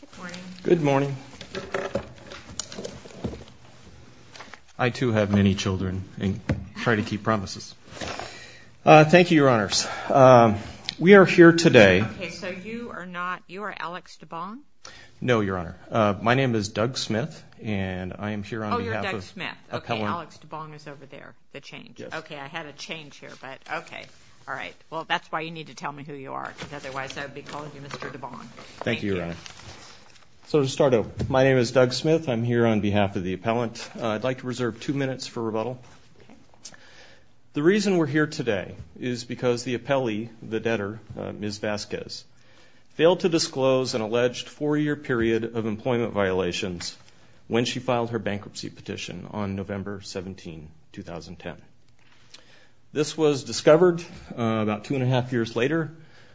Good morning. Good morning. I too have many children and try to keep promises. Thank you, Your Honors. We are here today. Okay, so you are not, you are Alex DeBond? No, Your Honor. My name is Doug Smith and I am here on behalf of Helen. Oh, you're Doug Smith. Okay, Alex DeBond is over there, the change. Yes. Okay, I had a change here, but okay. All right. Well, that's why you need to tell me who you are, because otherwise I'd be calling you Mr. DeBond. Thank you, Your Honor. So to start off, my name is Doug Smith. I'm here on behalf of the appellant. I'd like to reserve two minutes for rebuttal. The reason we're here today is because the appellee, the debtor, Ms. Vasquez, failed to disclose an alleged four-year period of employment violations when she filed her bankruptcy petition on November 17, 2010. This was discovered about two and a half years later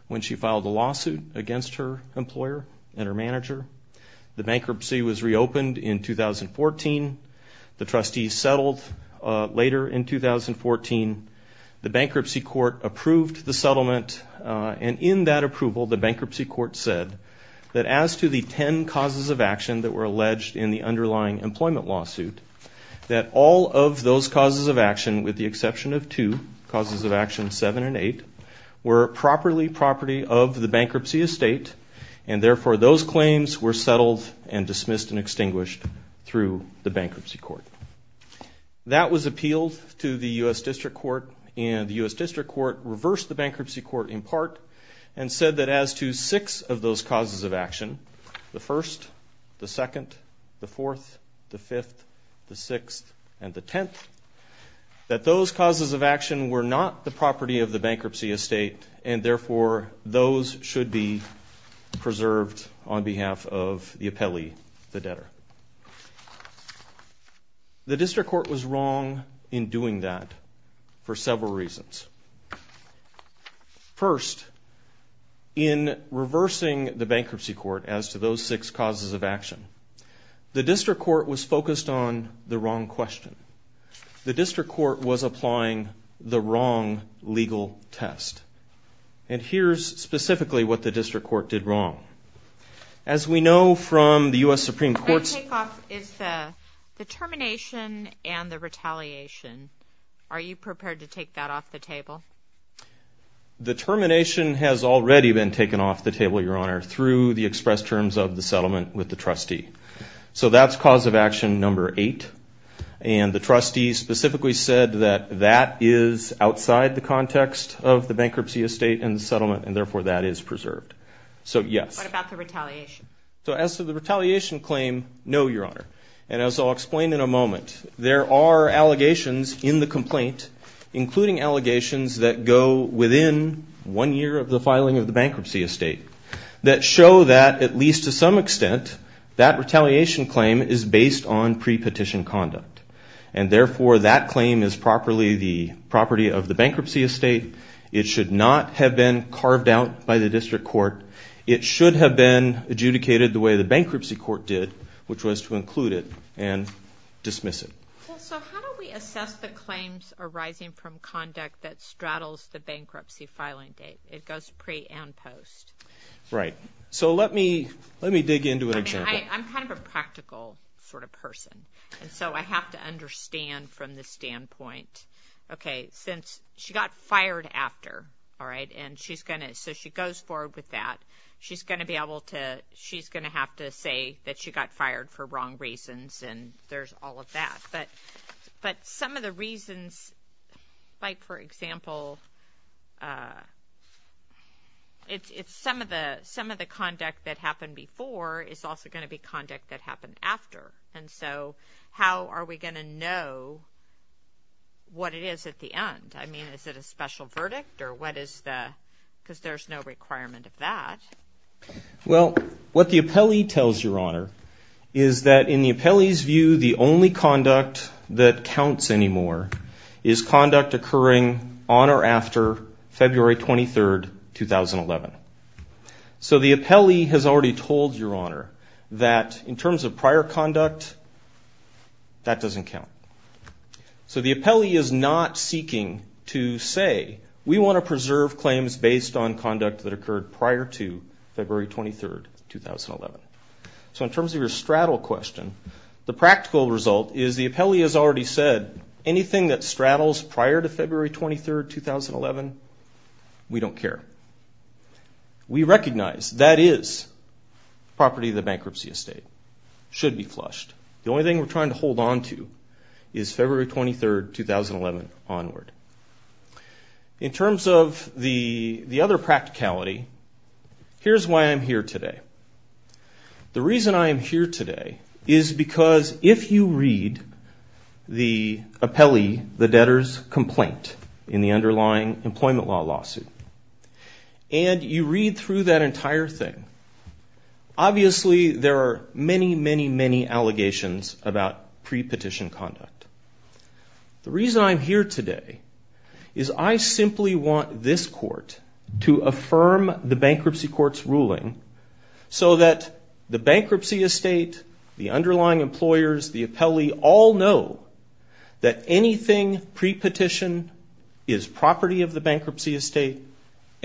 when she filed a lawsuit against her employer and her manager. The bankruptcy was reopened in 2014. The trustees settled later in 2014. The bankruptcy court approved the settlement and in that approval, the bankruptcy court said that as to the ten causes of action that were alleged in the underlying employment lawsuit, that all of those causes of action were not related to the bankruptcy. With the exception of two, causes of action seven and eight, were properly property of the bankruptcy estate and therefore those claims were settled and dismissed and extinguished through the bankruptcy court. That was appealed to the U.S. District Court and the U.S. District Court reversed the bankruptcy court in part and said that as to six of those causes of action, the first, the second, the fourth, the fifth, the sixth, and the tenth, that those causes of action were not the property of the bankruptcy estate and therefore those should be preserved on behalf of the appellee, the debtor. The district court was wrong in doing that for several reasons. First, in reversing the bankruptcy court as to those six causes of action, the district court was focused on the wrong question. The district court was applying the wrong legal test. And here's specifically what the district court did wrong. As we know from the U.S. Supreme Court's... My takeoff is the termination and the retaliation. Are you prepared to take that off the table? The termination has already been taken off the table, Your Honor, through the express terms of the settlement with the trustee. So that's cause of action number eight. And the trustee specifically said that that is outside the context of the bankruptcy estate and the settlement and therefore that is preserved. So, yes. What about the retaliation? So as to the retaliation claim, no, Your Honor. And as I'll explain in a moment, there are allegations in the complaint, including allegations that go within one year of the filing of the bankruptcy estate, that show that at least to some extent that retaliation claim is based on pre-petition conduct. And therefore that claim is properly the property of the bankruptcy estate. It should not have been carved out by the district court. It should have been adjudicated the way the bankruptcy court did, which was to include it and dismiss it. So how do we assess the claims arising from conduct that straddles the bankruptcy filing date? It goes pre and post. Right. So let me dig into an example. I'm kind of a practical sort of person. And so I have to understand from the standpoint, okay, since she got fired after, all right, and she's going to, so she goes forward with that, she's going to be able to, she's going to have to say that she got fired for wrong reasons and there's all of that. But some of the reasons, like for example, some of the conduct that happened before is also going to be conduct that happened after. And so how are we going to know what it is at the end? I mean, is it a special verdict or what is the, because there's no requirement of that. Well, what the appellee tells your honor is that in the appellee's view, the only conduct that counts anymore is conduct occurring on or after February 23rd, 2011. So the appellee has already told your honor that in terms of prior conduct, that doesn't count. So the appellee is not seeking to say we want to preserve claims based on conduct that occurred prior to February 23rd, 2011. So in terms of your straddle question, the practical result is the appellee has already said anything that straddles prior to February 23rd, 2011, we don't care. We recognize that is property of the bankruptcy estate, should be flushed. The only thing we're trying to hold onto is February 23rd, 2011 onward. In terms of the other practicality, here's why I'm here today. The reason I'm here today is because if you read the appellee, the debtor's complaint in the underlying employment law lawsuit, and you read through that entire thing, obviously there are many, many, many allegations about pre-petition conduct. The reason I'm here today is I simply want this court to affirm the bankruptcy court's ruling so that the bankruptcy estate, the underlying employers, the appellee all know that anything pre-petition is property of the bankruptcy estate,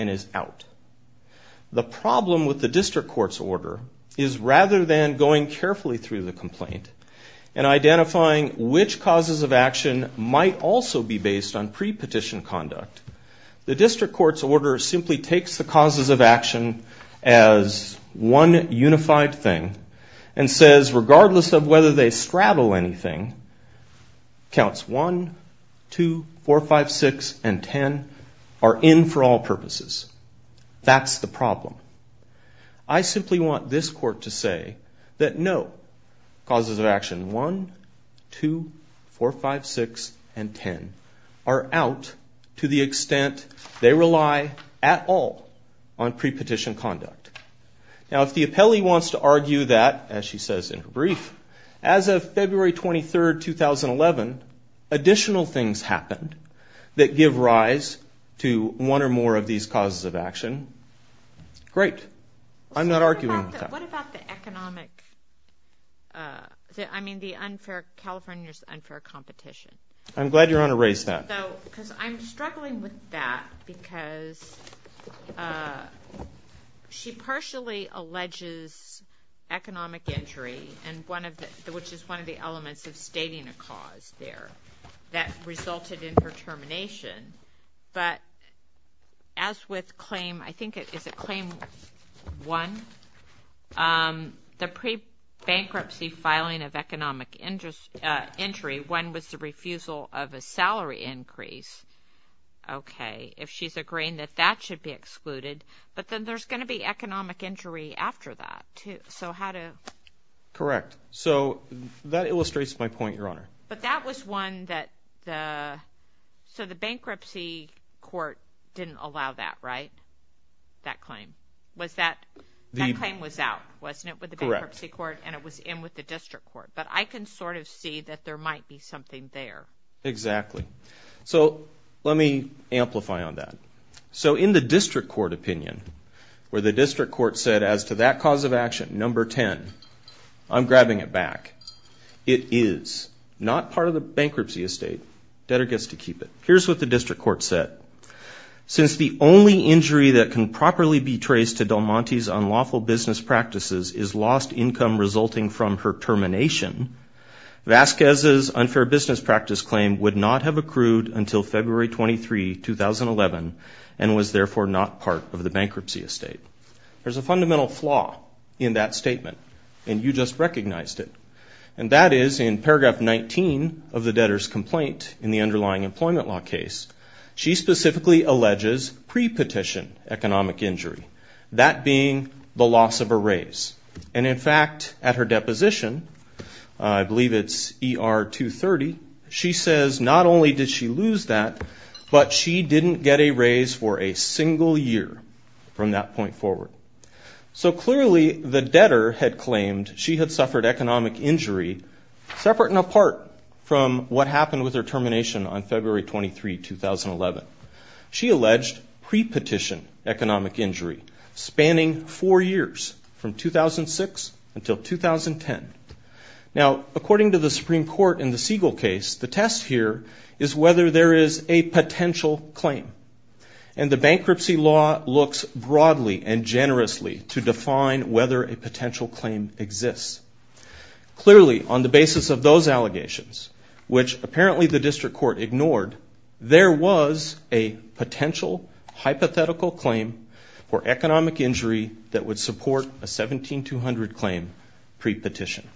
and is out. The problem with the district court's order is rather than going carefully through the complaint and identifying which causes of action might also be based on pre-petition conduct, the district court's order simply takes the causes of action as one unified thing and says regardless of whether they straddle anything, counts 1, 2, 4, 5, 6, and 10 are in for all purposes. That's the problem. I simply want this court to say that no, causes of action 1, 2, 4, 5, 6, and 10 are out to the extent they rely at all on pre-petition conduct. Now if the appellee wants to argue that, as she says in her brief, as of February 23, 2011, additional things happened that give rise to one or more of these causes of action, great. I'm not arguing with that. What about the economic, I mean the unfair, California's unfair competition? I'm glad Your Honor raised that. Because I'm struggling with that because she partially alleges economic injury, which is one of the elements of stating a cause there that resulted in her termination, but as with claim, I think is it claim 1? The pre-bankruptcy filing of economic injury, one was the refusal of a salary increase. Okay, if she's agreeing that that should be excluded, but then there's going to be economic injury after that too, so how do? Correct. So that illustrates my point, Your Honor. But that was one that the, so the bankruptcy court didn't allow that, right? That claim. Was that, that claim was out, wasn't it? Correct. With the bankruptcy court and it was in with the district court, but I can sort of see that there might be something there. Exactly. So let me amplify on that. So in the district court opinion, where the district court said as to that cause of action, number 10, I'm grabbing it back. It is not part of the bankruptcy estate. Debtor gets to keep it. Here's what the district court said. Since the only injury that can properly be traced to Del Monte's unlawful business practices is lost income resulting from her termination, Vasquez's unfair business practice claim would not have accrued until February 23, 2011 and was therefore not part of the bankruptcy estate. There's a fundamental flaw in that statement and you just recognized it. And that is in paragraph 19 of the debtor's complaint in the underlying employment law case. She specifically alleges pre-petition economic injury. That being the loss of a raise. And in fact, at her deposition, I believe it's ER 230, she says not only did she lose that, but she didn't get a raise for a single year from that point forward. So clearly the debtor had claimed she had suffered economic injury separate and apart from what happened with her termination on February 23, 2011. She alleged pre-petition economic injury spanning four years from 2006 until 2010. Now according to the Supreme Court in the Siegel case, the test here is whether there is a potential claim. And the bankruptcy law looks broadly and generously to define whether a potential claim exists. Clearly on the basis of those allegations, which apparently the district court ignored, there was a potential hypothetical claim for economic injury that would support a 17-200 claim pre-petition.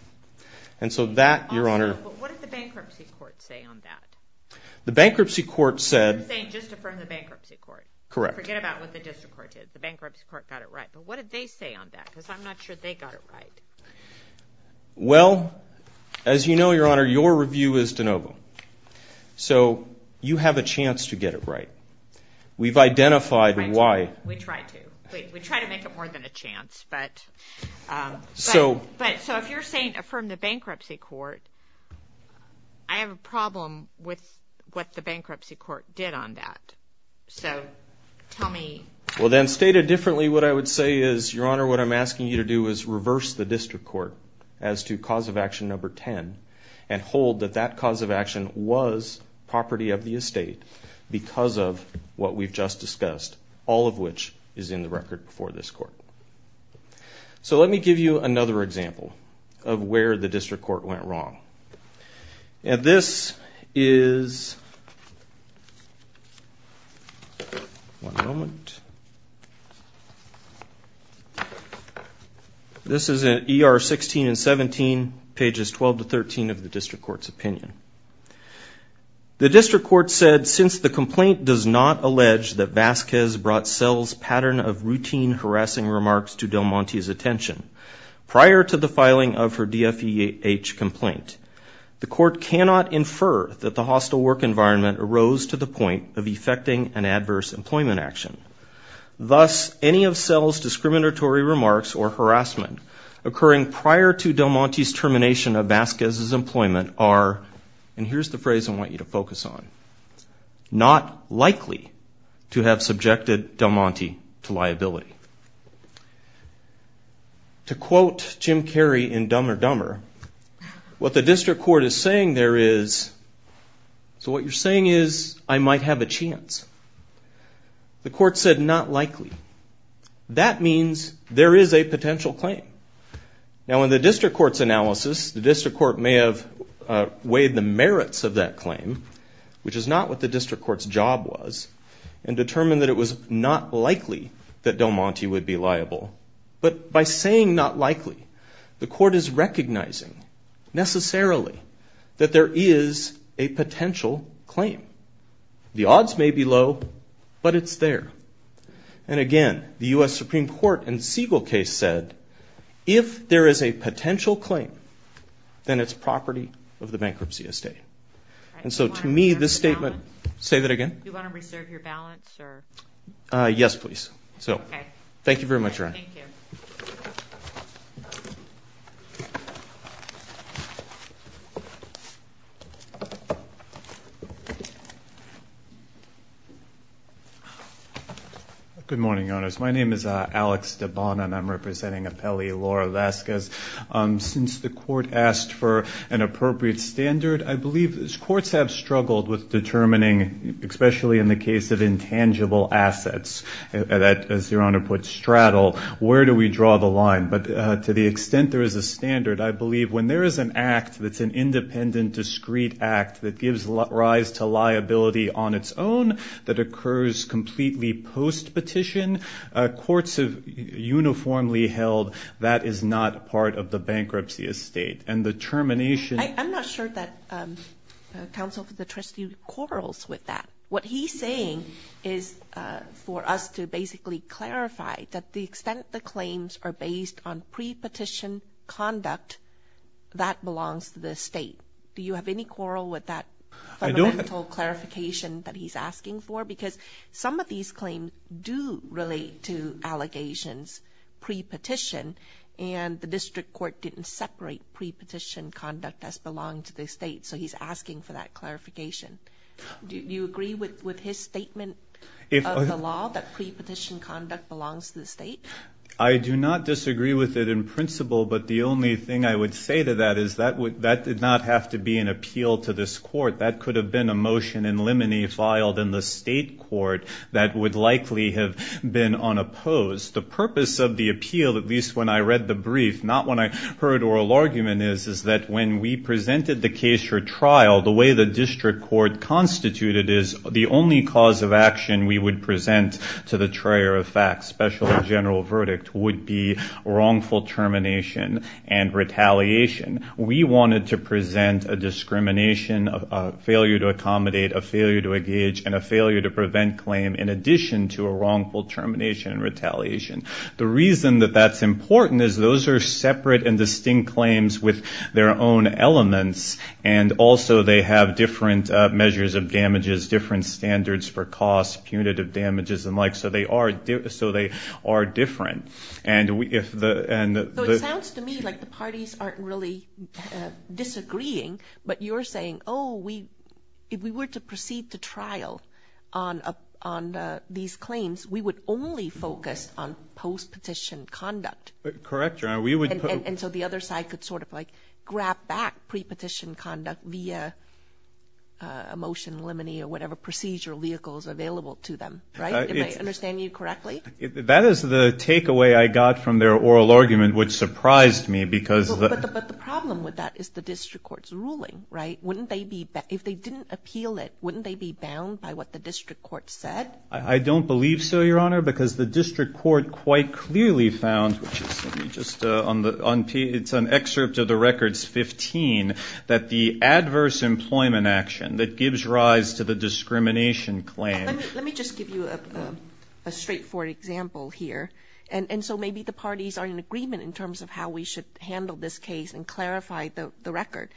And so that, Your Honor. But what did the bankruptcy court say on that? The bankruptcy court said. You're saying just affirm the bankruptcy court. Correct. Forget about what the district court did. The bankruptcy court got it right. But what did they say on that? Because I'm not sure they got it right. Well, as you know, Your Honor, your review is de novo. So you have a chance to get it right. We've identified why. We try to. We try to make it more than a chance. But so if you're saying affirm the bankruptcy court, I have a problem with what the bankruptcy court did on that. So tell me. Well, then stated differently, what I would say is, Your Honor, what I'm asking you to do is reverse the district court as to cause of action number 10 and hold that that cause of action was property of the estate because of what we've just discussed, all of which is in the record for this court. So let me give you another example of where the district court went wrong. And this is. This is an ER 16 and 17 pages 12 to 13 of the district court's opinion. The district court said since the complaint does not allege that Vasquez brought cells pattern of routine harassing remarks to Del Monte's attention prior to the filing of her DFEH complaint, the court cannot infer that the hostile work environment arose to the point of effecting an adverse employment action. Thus, any of cells discriminatory remarks or harassment occurring prior to Del Monte's termination of Vasquez's employment are, and here's the phrase I want you to focus on, not likely to have subjected Del Monte to liability. To quote Jim Carey in Dumber Dumber, what the district court is saying there is, so what you're saying is I might have a chance. The court said not likely. That means there is a potential claim. Now in the district court's analysis, the district court may have weighed the merits of that claim, which is not what the district court's job was, and determined that it was not likely that Del Monte would be liable. But by saying not likely, the court is recognizing necessarily that there is a potential claim. The odds may be low, but it's there. And again, the U.S. Supreme Court in Siegel case said, if there is a potential claim, then it's property of the bankruptcy estate. And so to me, this statement, say that again? Do you want to reserve your balance? Yes, please. Thank you very much. Good morning, Your Honors. My name is Alex Dabana, and I'm representing Appellee Laura Vasquez. Since the court asked for an appropriate standard, I believe courts have struggled with determining, especially in the case of intangible assets, that, as Your Honor put, straddle. Where do we draw the line? But to the extent there is a standard, I believe when there is an act that's an independent, discreet act that gives rise to liability on its own, that occurs completely per se. But to the extent there is an act that's a post-petition, courts have uniformly held that is not part of the bankruptcy estate. And the termination... I'm not sure that counsel for the trustee quarrels with that. What he's saying is for us to basically clarify that the extent the claims are based on pre-petition conduct, that belongs to the state. Do you have any quarrel with that fundamental clarification that he's asking for? Because he does relate to allegations pre-petition, and the district court didn't separate pre-petition conduct as belonging to the state. So he's asking for that clarification. Do you agree with his statement of the law, that pre-petition conduct belongs to the state? I do not disagree with it in principle, but the only thing I would say to that is that did not have to be an appeal to this court. That could have been a motion in limine filed in the state court that would likely have been a pre-petition. That would likely have been unopposed. The purpose of the appeal, at least when I read the brief, not when I heard oral argument, is that when we presented the case for trial, the way the district court constituted is the only cause of action we would present to the trayer of facts, special and general verdict, would be wrongful termination and retaliation. We wanted to present a discrimination, a failure to accommodate, a failure to engage, and a failure to prevent claim in addition to a wrongful termination. The reason that that's important is those are separate and distinct claims with their own elements, and also they have different measures of damages, different standards for cost, punitive damages and the like, so they are different. So it sounds to me like the parties aren't really disagreeing, but you're saying, oh, if we were to proceed to trial on these claims, we would only focus on post-petition conduct. Correct, Your Honor. And so the other side could sort of like grab back pre-petition conduct via a motion limine or whatever procedure vehicle is available to them, right? If I understand you correctly? That is the takeaway I got from their oral argument, which surprised me because... But the problem with that is the district court's ruling, right? If they didn't appeal it, wouldn't they be bound by what the district court said? I don't believe so, Your Honor, because the district court quite clearly found, which is just on the... It's an excerpt of the records 15, that the adverse employment action that gives rise to the discrimination claim... Let me just give you a straightforward example here. And so maybe the parties are in agreement in terms of how we should handle this case and clarify the record.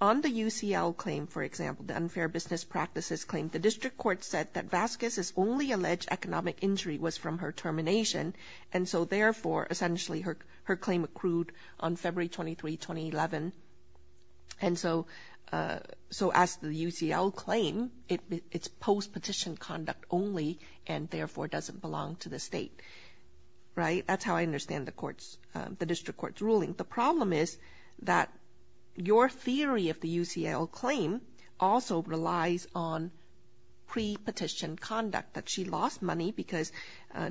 On the UCL claim, for example, the Unfair Business Practices claim, the district court said that Vasquez is only eligible if the only alleged economic injury was from her termination. And so therefore, essentially, her claim accrued on February 23, 2011. And so as the UCL claim, it's post-petition conduct only and therefore doesn't belong to the state, right? That's how I understand the district court's ruling. The problem is that your theory of the UCL claim also relies on pre-petition conduct. She lost money because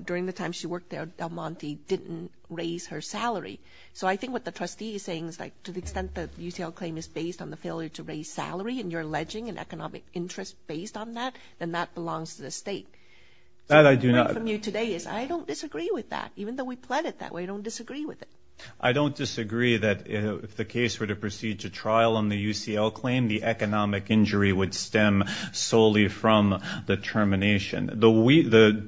during the time she worked there, Del Monte didn't raise her salary. So I think what the trustee is saying is, like, to the extent that UCL claim is based on the failure to raise salary and you're alleging an economic interest based on that, then that belongs to the state. That I do not... So the point from you today is I don't disagree with that, even though we plan it that way, I don't disagree with it. I don't disagree that if the case were to proceed to trial on the UCL claim, the economic injury would stem solely from the termination. So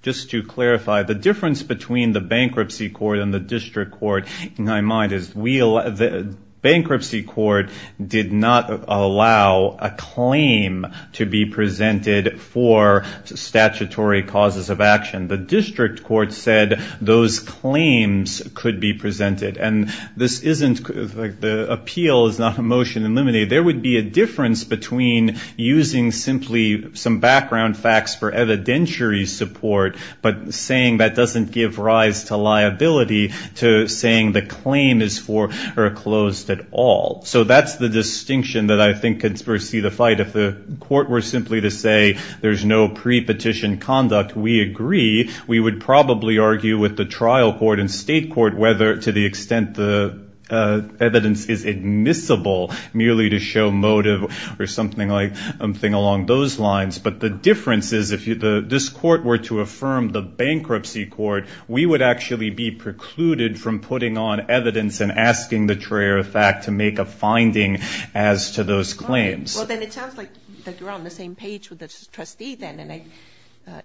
just to clarify, the difference between the bankruptcy court and the district court, in my mind, is the bankruptcy court did not allow a claim to be presented for statutory causes of action. The district court said those claims could be presented. And this isn't... The appeal is not a motion eliminated. There would be a difference between using simply some background facts for evidentiary support but saying that doesn't give rise to liability to saying the claim is foreclosed at all. So that's the distinction that I think could foresee the fight. If the court were simply to say there's no pre-petition conduct, we agree. We would probably argue with the trial court and state court whether to the extent the evidence is admissible merely to show motive or something along those lines. But the difference is if this court were to affirm the bankruptcy court, we would actually be precluded from putting on evidence and asking the trier of fact to make a finding as to those claims. Well, then it sounds like you're on the same page with the trustee then. And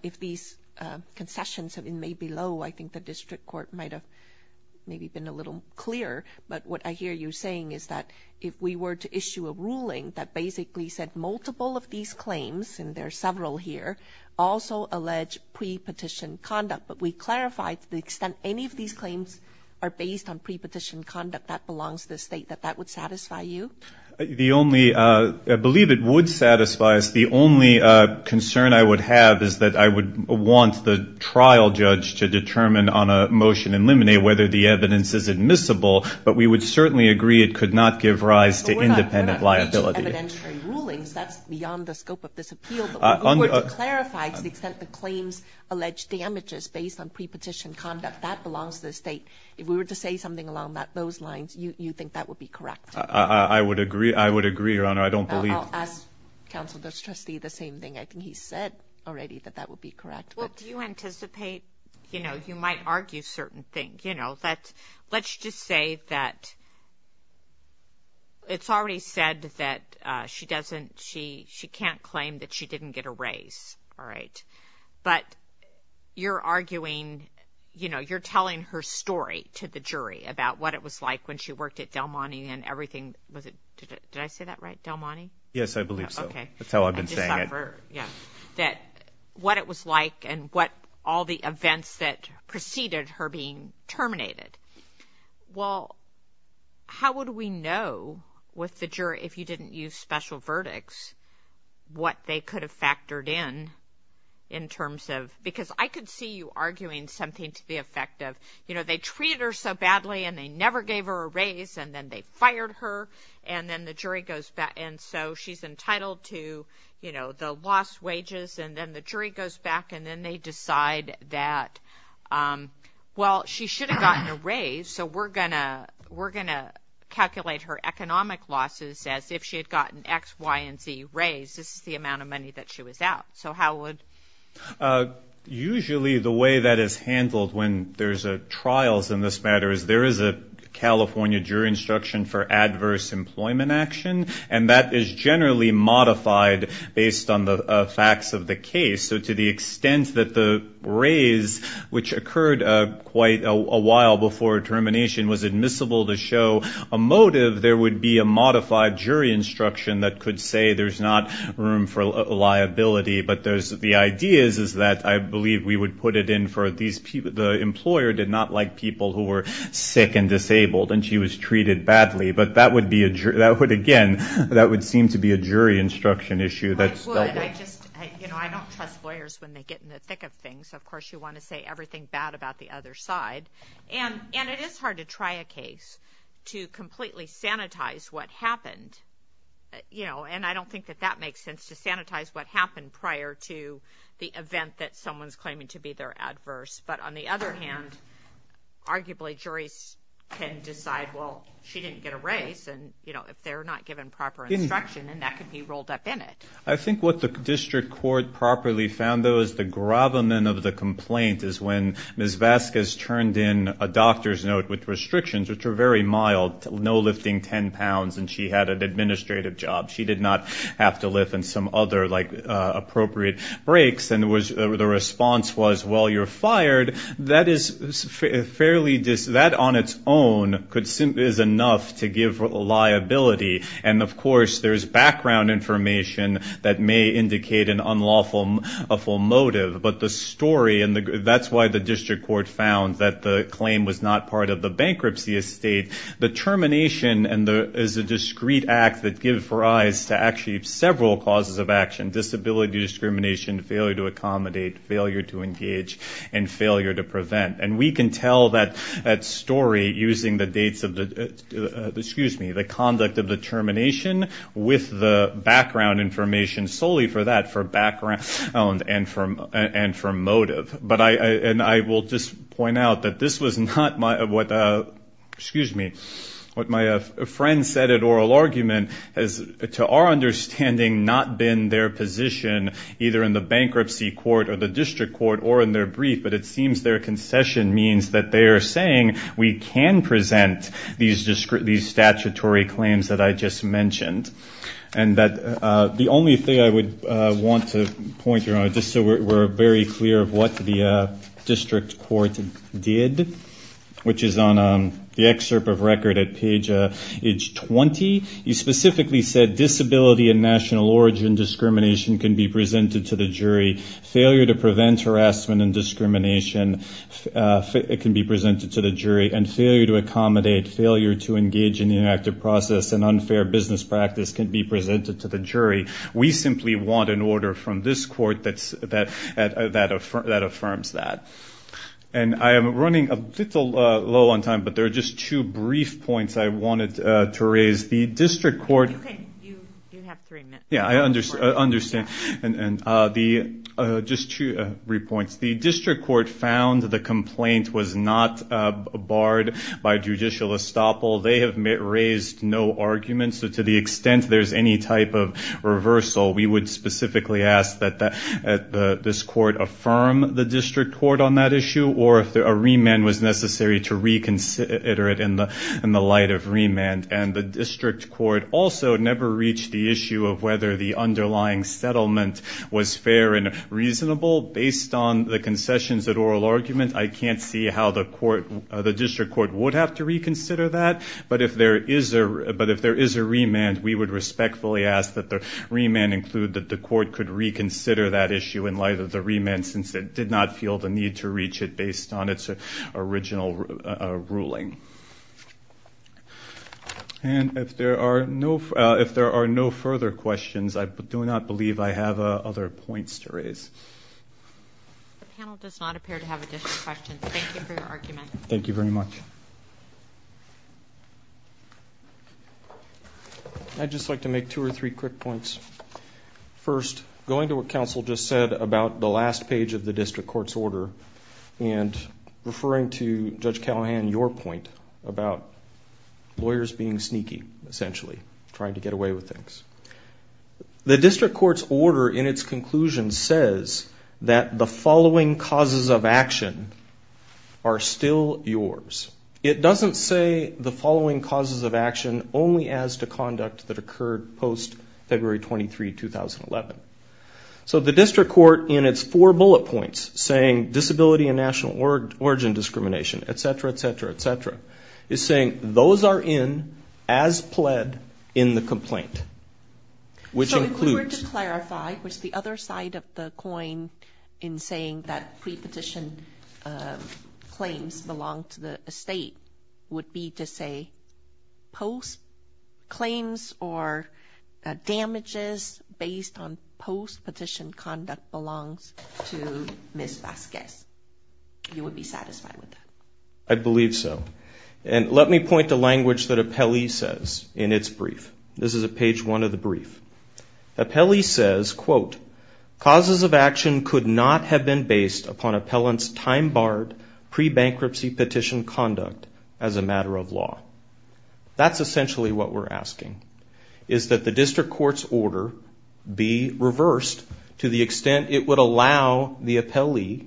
if these concessions have been made below, I think the district court might have maybe been a little clearer. But what I hear you saying is that if we were to issue a ruling that basically said multiple of these claims, and there are several here, also allege pre-petition conduct, but we clarify to the extent any of these claims are based on pre-petition conduct that belongs to the state, that that would satisfy you? The only... I believe it would satisfy us. The only concern I would have is that I would want the trial judge to determine on a motion and eliminate whether the evidence is admissible but we would certainly agree it could not give rise to independent liability. But we're not going to issue evidentiary rulings. That's beyond the scope of this appeal. But if we were to clarify to the extent the claims allege damages based on pre-petition conduct, that belongs to the state. If we were to say something along those lines, you think that would be correct? I would agree, Your Honor. I don't believe... I'll ask counsel this trustee the same thing. I think he said already that that would be correct. Well, do you anticipate... You know, you might argue certain things. You know, let's just say that... It's already said that she doesn't... She can't claim that she didn't get a raise, all right? But you're arguing... You know, you're telling her story to the jury about what it was like when she worked at Del Monte and everything... Did I say that right? Del Monte? Yes, I believe so. That's how I've been saying it. That what it was like and what all the events that preceded her being terminated. Well, how would we know with the jury, if you didn't use special verdicts, what they could have factored in, in terms of... Because I could see you arguing something to the effect of, you know, they treated her so badly and they never gave her a raise, and then they fired her, and then the jury goes back... And so she's entitled to, you know, the lost wages, and then the jury goes back and then they decide that, well, she should have gotten a raise, so we're going to calculate her economic losses as if she had gotten X, Y, and Z raise. This is the amount of money that she was out. So how would... Usually, the way that is handled when there's trials in this matter is there is a California jury instruction for adverse employment action, and that is generally modified based on the facts of the case. So to the extent that the raise, which occurred quite a while before termination, was admissible to show a motive, there would be a modified jury instruction that could say there's not room for liability. But the idea is that I believe we would put it in for... The employer did not like people who were sick and disabled, and she was treated badly, but that would, again, that would seem to be a jury instruction issue that's... I would. I just... You know, I don't trust lawyers when they get in the thick of things. Of course, you want to say everything bad about the other side. And it is hard to try a case to completely sanitize what happened. You know, and I don't think that that makes sense, to sanitize what happened prior to the event that someone's claiming to be their adverse. But on the other hand, arguably, juries can decide, well, she didn't get a raise, and, you know, if they're not given proper instruction, then that could be rolled up in it. I think what the district court properly found, though, is the gravamen of the complaint is when Ms. Vasquez turned in a doctor's note with restrictions, which were very mild, no lifting 10 pounds, and she had an administrative job. She did not have to lift on some other, like, appropriate breaks. And the response was, well, you're fired. That is fairly... That on its own is enough to give liability. And, of course, there's background information that may indicate an unlawful motive. But the story... And that's why the district court found that the claim was not part of the bankruptcy estate. The termination is a discrete act that gives rise to actually several causes of action. Disability discrimination, failure to accommodate, failure to engage, and failure to prevent. And we can tell that story using the dates of the... Excuse me, the conduct of the termination with the background information solely for that, for background and for motive. And I will just point out that this was not my... Excuse me. What my friend said at oral argument has, to our understanding, not been their position, either in the bankruptcy court or the district court or in their brief, but it seems their concession means that they are saying we can present these statutory claims that I just mentioned. And that the only thing I would want to point out, just so we're very clear of what the district court did, which is on the agenda, in the excerpt of record at page 20, he specifically said disability and national origin discrimination can be presented to the jury. Failure to prevent harassment and discrimination can be presented to the jury. And failure to accommodate, failure to engage in the interactive process and unfair business practice can be presented to the jury. We simply want an order from this court that affirms that. And I am running a little low on time, but there are just two brief points I wanted to raise. The district court... Yeah, I understand. Just two brief points. The district court found the complaint was not barred by judicial estoppel. They have raised no argument. So to the extent there's any type of reversal, we would specifically ask that this court affirm the district court on that issue or if a remand was necessary to reconsider it in the light of remand. And the district court also never reached the issue of whether the underlying settlement was fair and reasonable. Based on the concessions at oral argument, I can't see how the district court would have to reconsider that. But if there is a remand, we would respectfully ask that the remand include that the court could reconsider that issue in light of the remand since it did not feel the need to reach it based on its original ruling. And if there are no further questions, I do not believe I have other points to raise. The panel does not appear to have additional questions. Thank you for your argument. Thank you very much. I'd just like to make two or three quick points. First, going to what counsel just said about the last page of the district court's order and referring to Judge Callahan, your point about lawyers being sneaky, essentially, trying to get away with things. The district court's order in its conclusion says that the following causes of action are still yours. It doesn't say the following causes of action only as to conduct that occurred post-February 23, 2011. So the district court in its four bullet points saying disability and national origin discrimination, et cetera, et cetera, et cetera, is saying those are in as pled in the complaint, which includes... So if we were to clarify, what's the other side of the coin in saying that pre-petition claims belong to the estate would be to say post-claims or damages based on post-petition conduct belongs to Ms. Vasquez. You would be satisfied with that? I believe so. And let me point to language that Apelli says in its brief. Apelli says, quote, causes of action could not have been based upon appellant's time-barred pre-bankruptcy petition conduct as a matter of law. That's essentially what we're asking, is that the district court's order be reversed to the extent it would allow the Apelli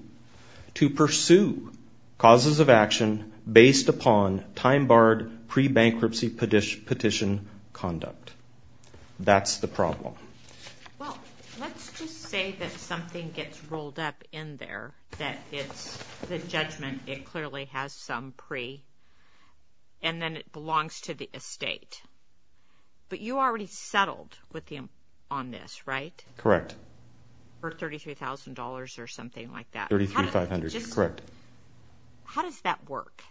to pursue causes of action based upon time-barred pre-bankruptcy petition conduct. That's the problem. Well, let's just say that something gets rolled up in there that it's the judgment it clearly has some pre- and then it belongs to the estate. But you already settled on this, right? Correct. For $33,000 or something like that. $33,500, correct. How does that work?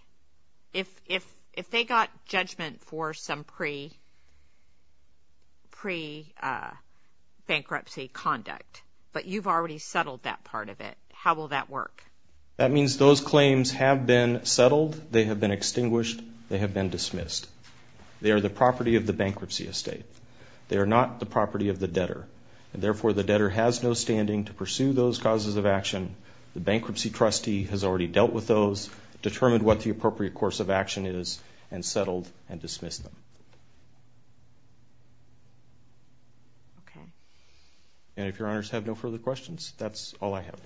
If they got judgment for some pre-bankruptcy conduct, but you've already settled that part of it, how will that work? That means those claims have been settled, they have been extinguished, they have been dismissed. They are the property of the bankruptcy estate. They are not the property of the debtor. And therefore, the debtor has no standing to pursue those causes of action. The bankruptcy trustee has already dealt with those, determined what the appropriate course of action is, and settled and dismissed them. And if Your Honors have no further questions, that's all I have.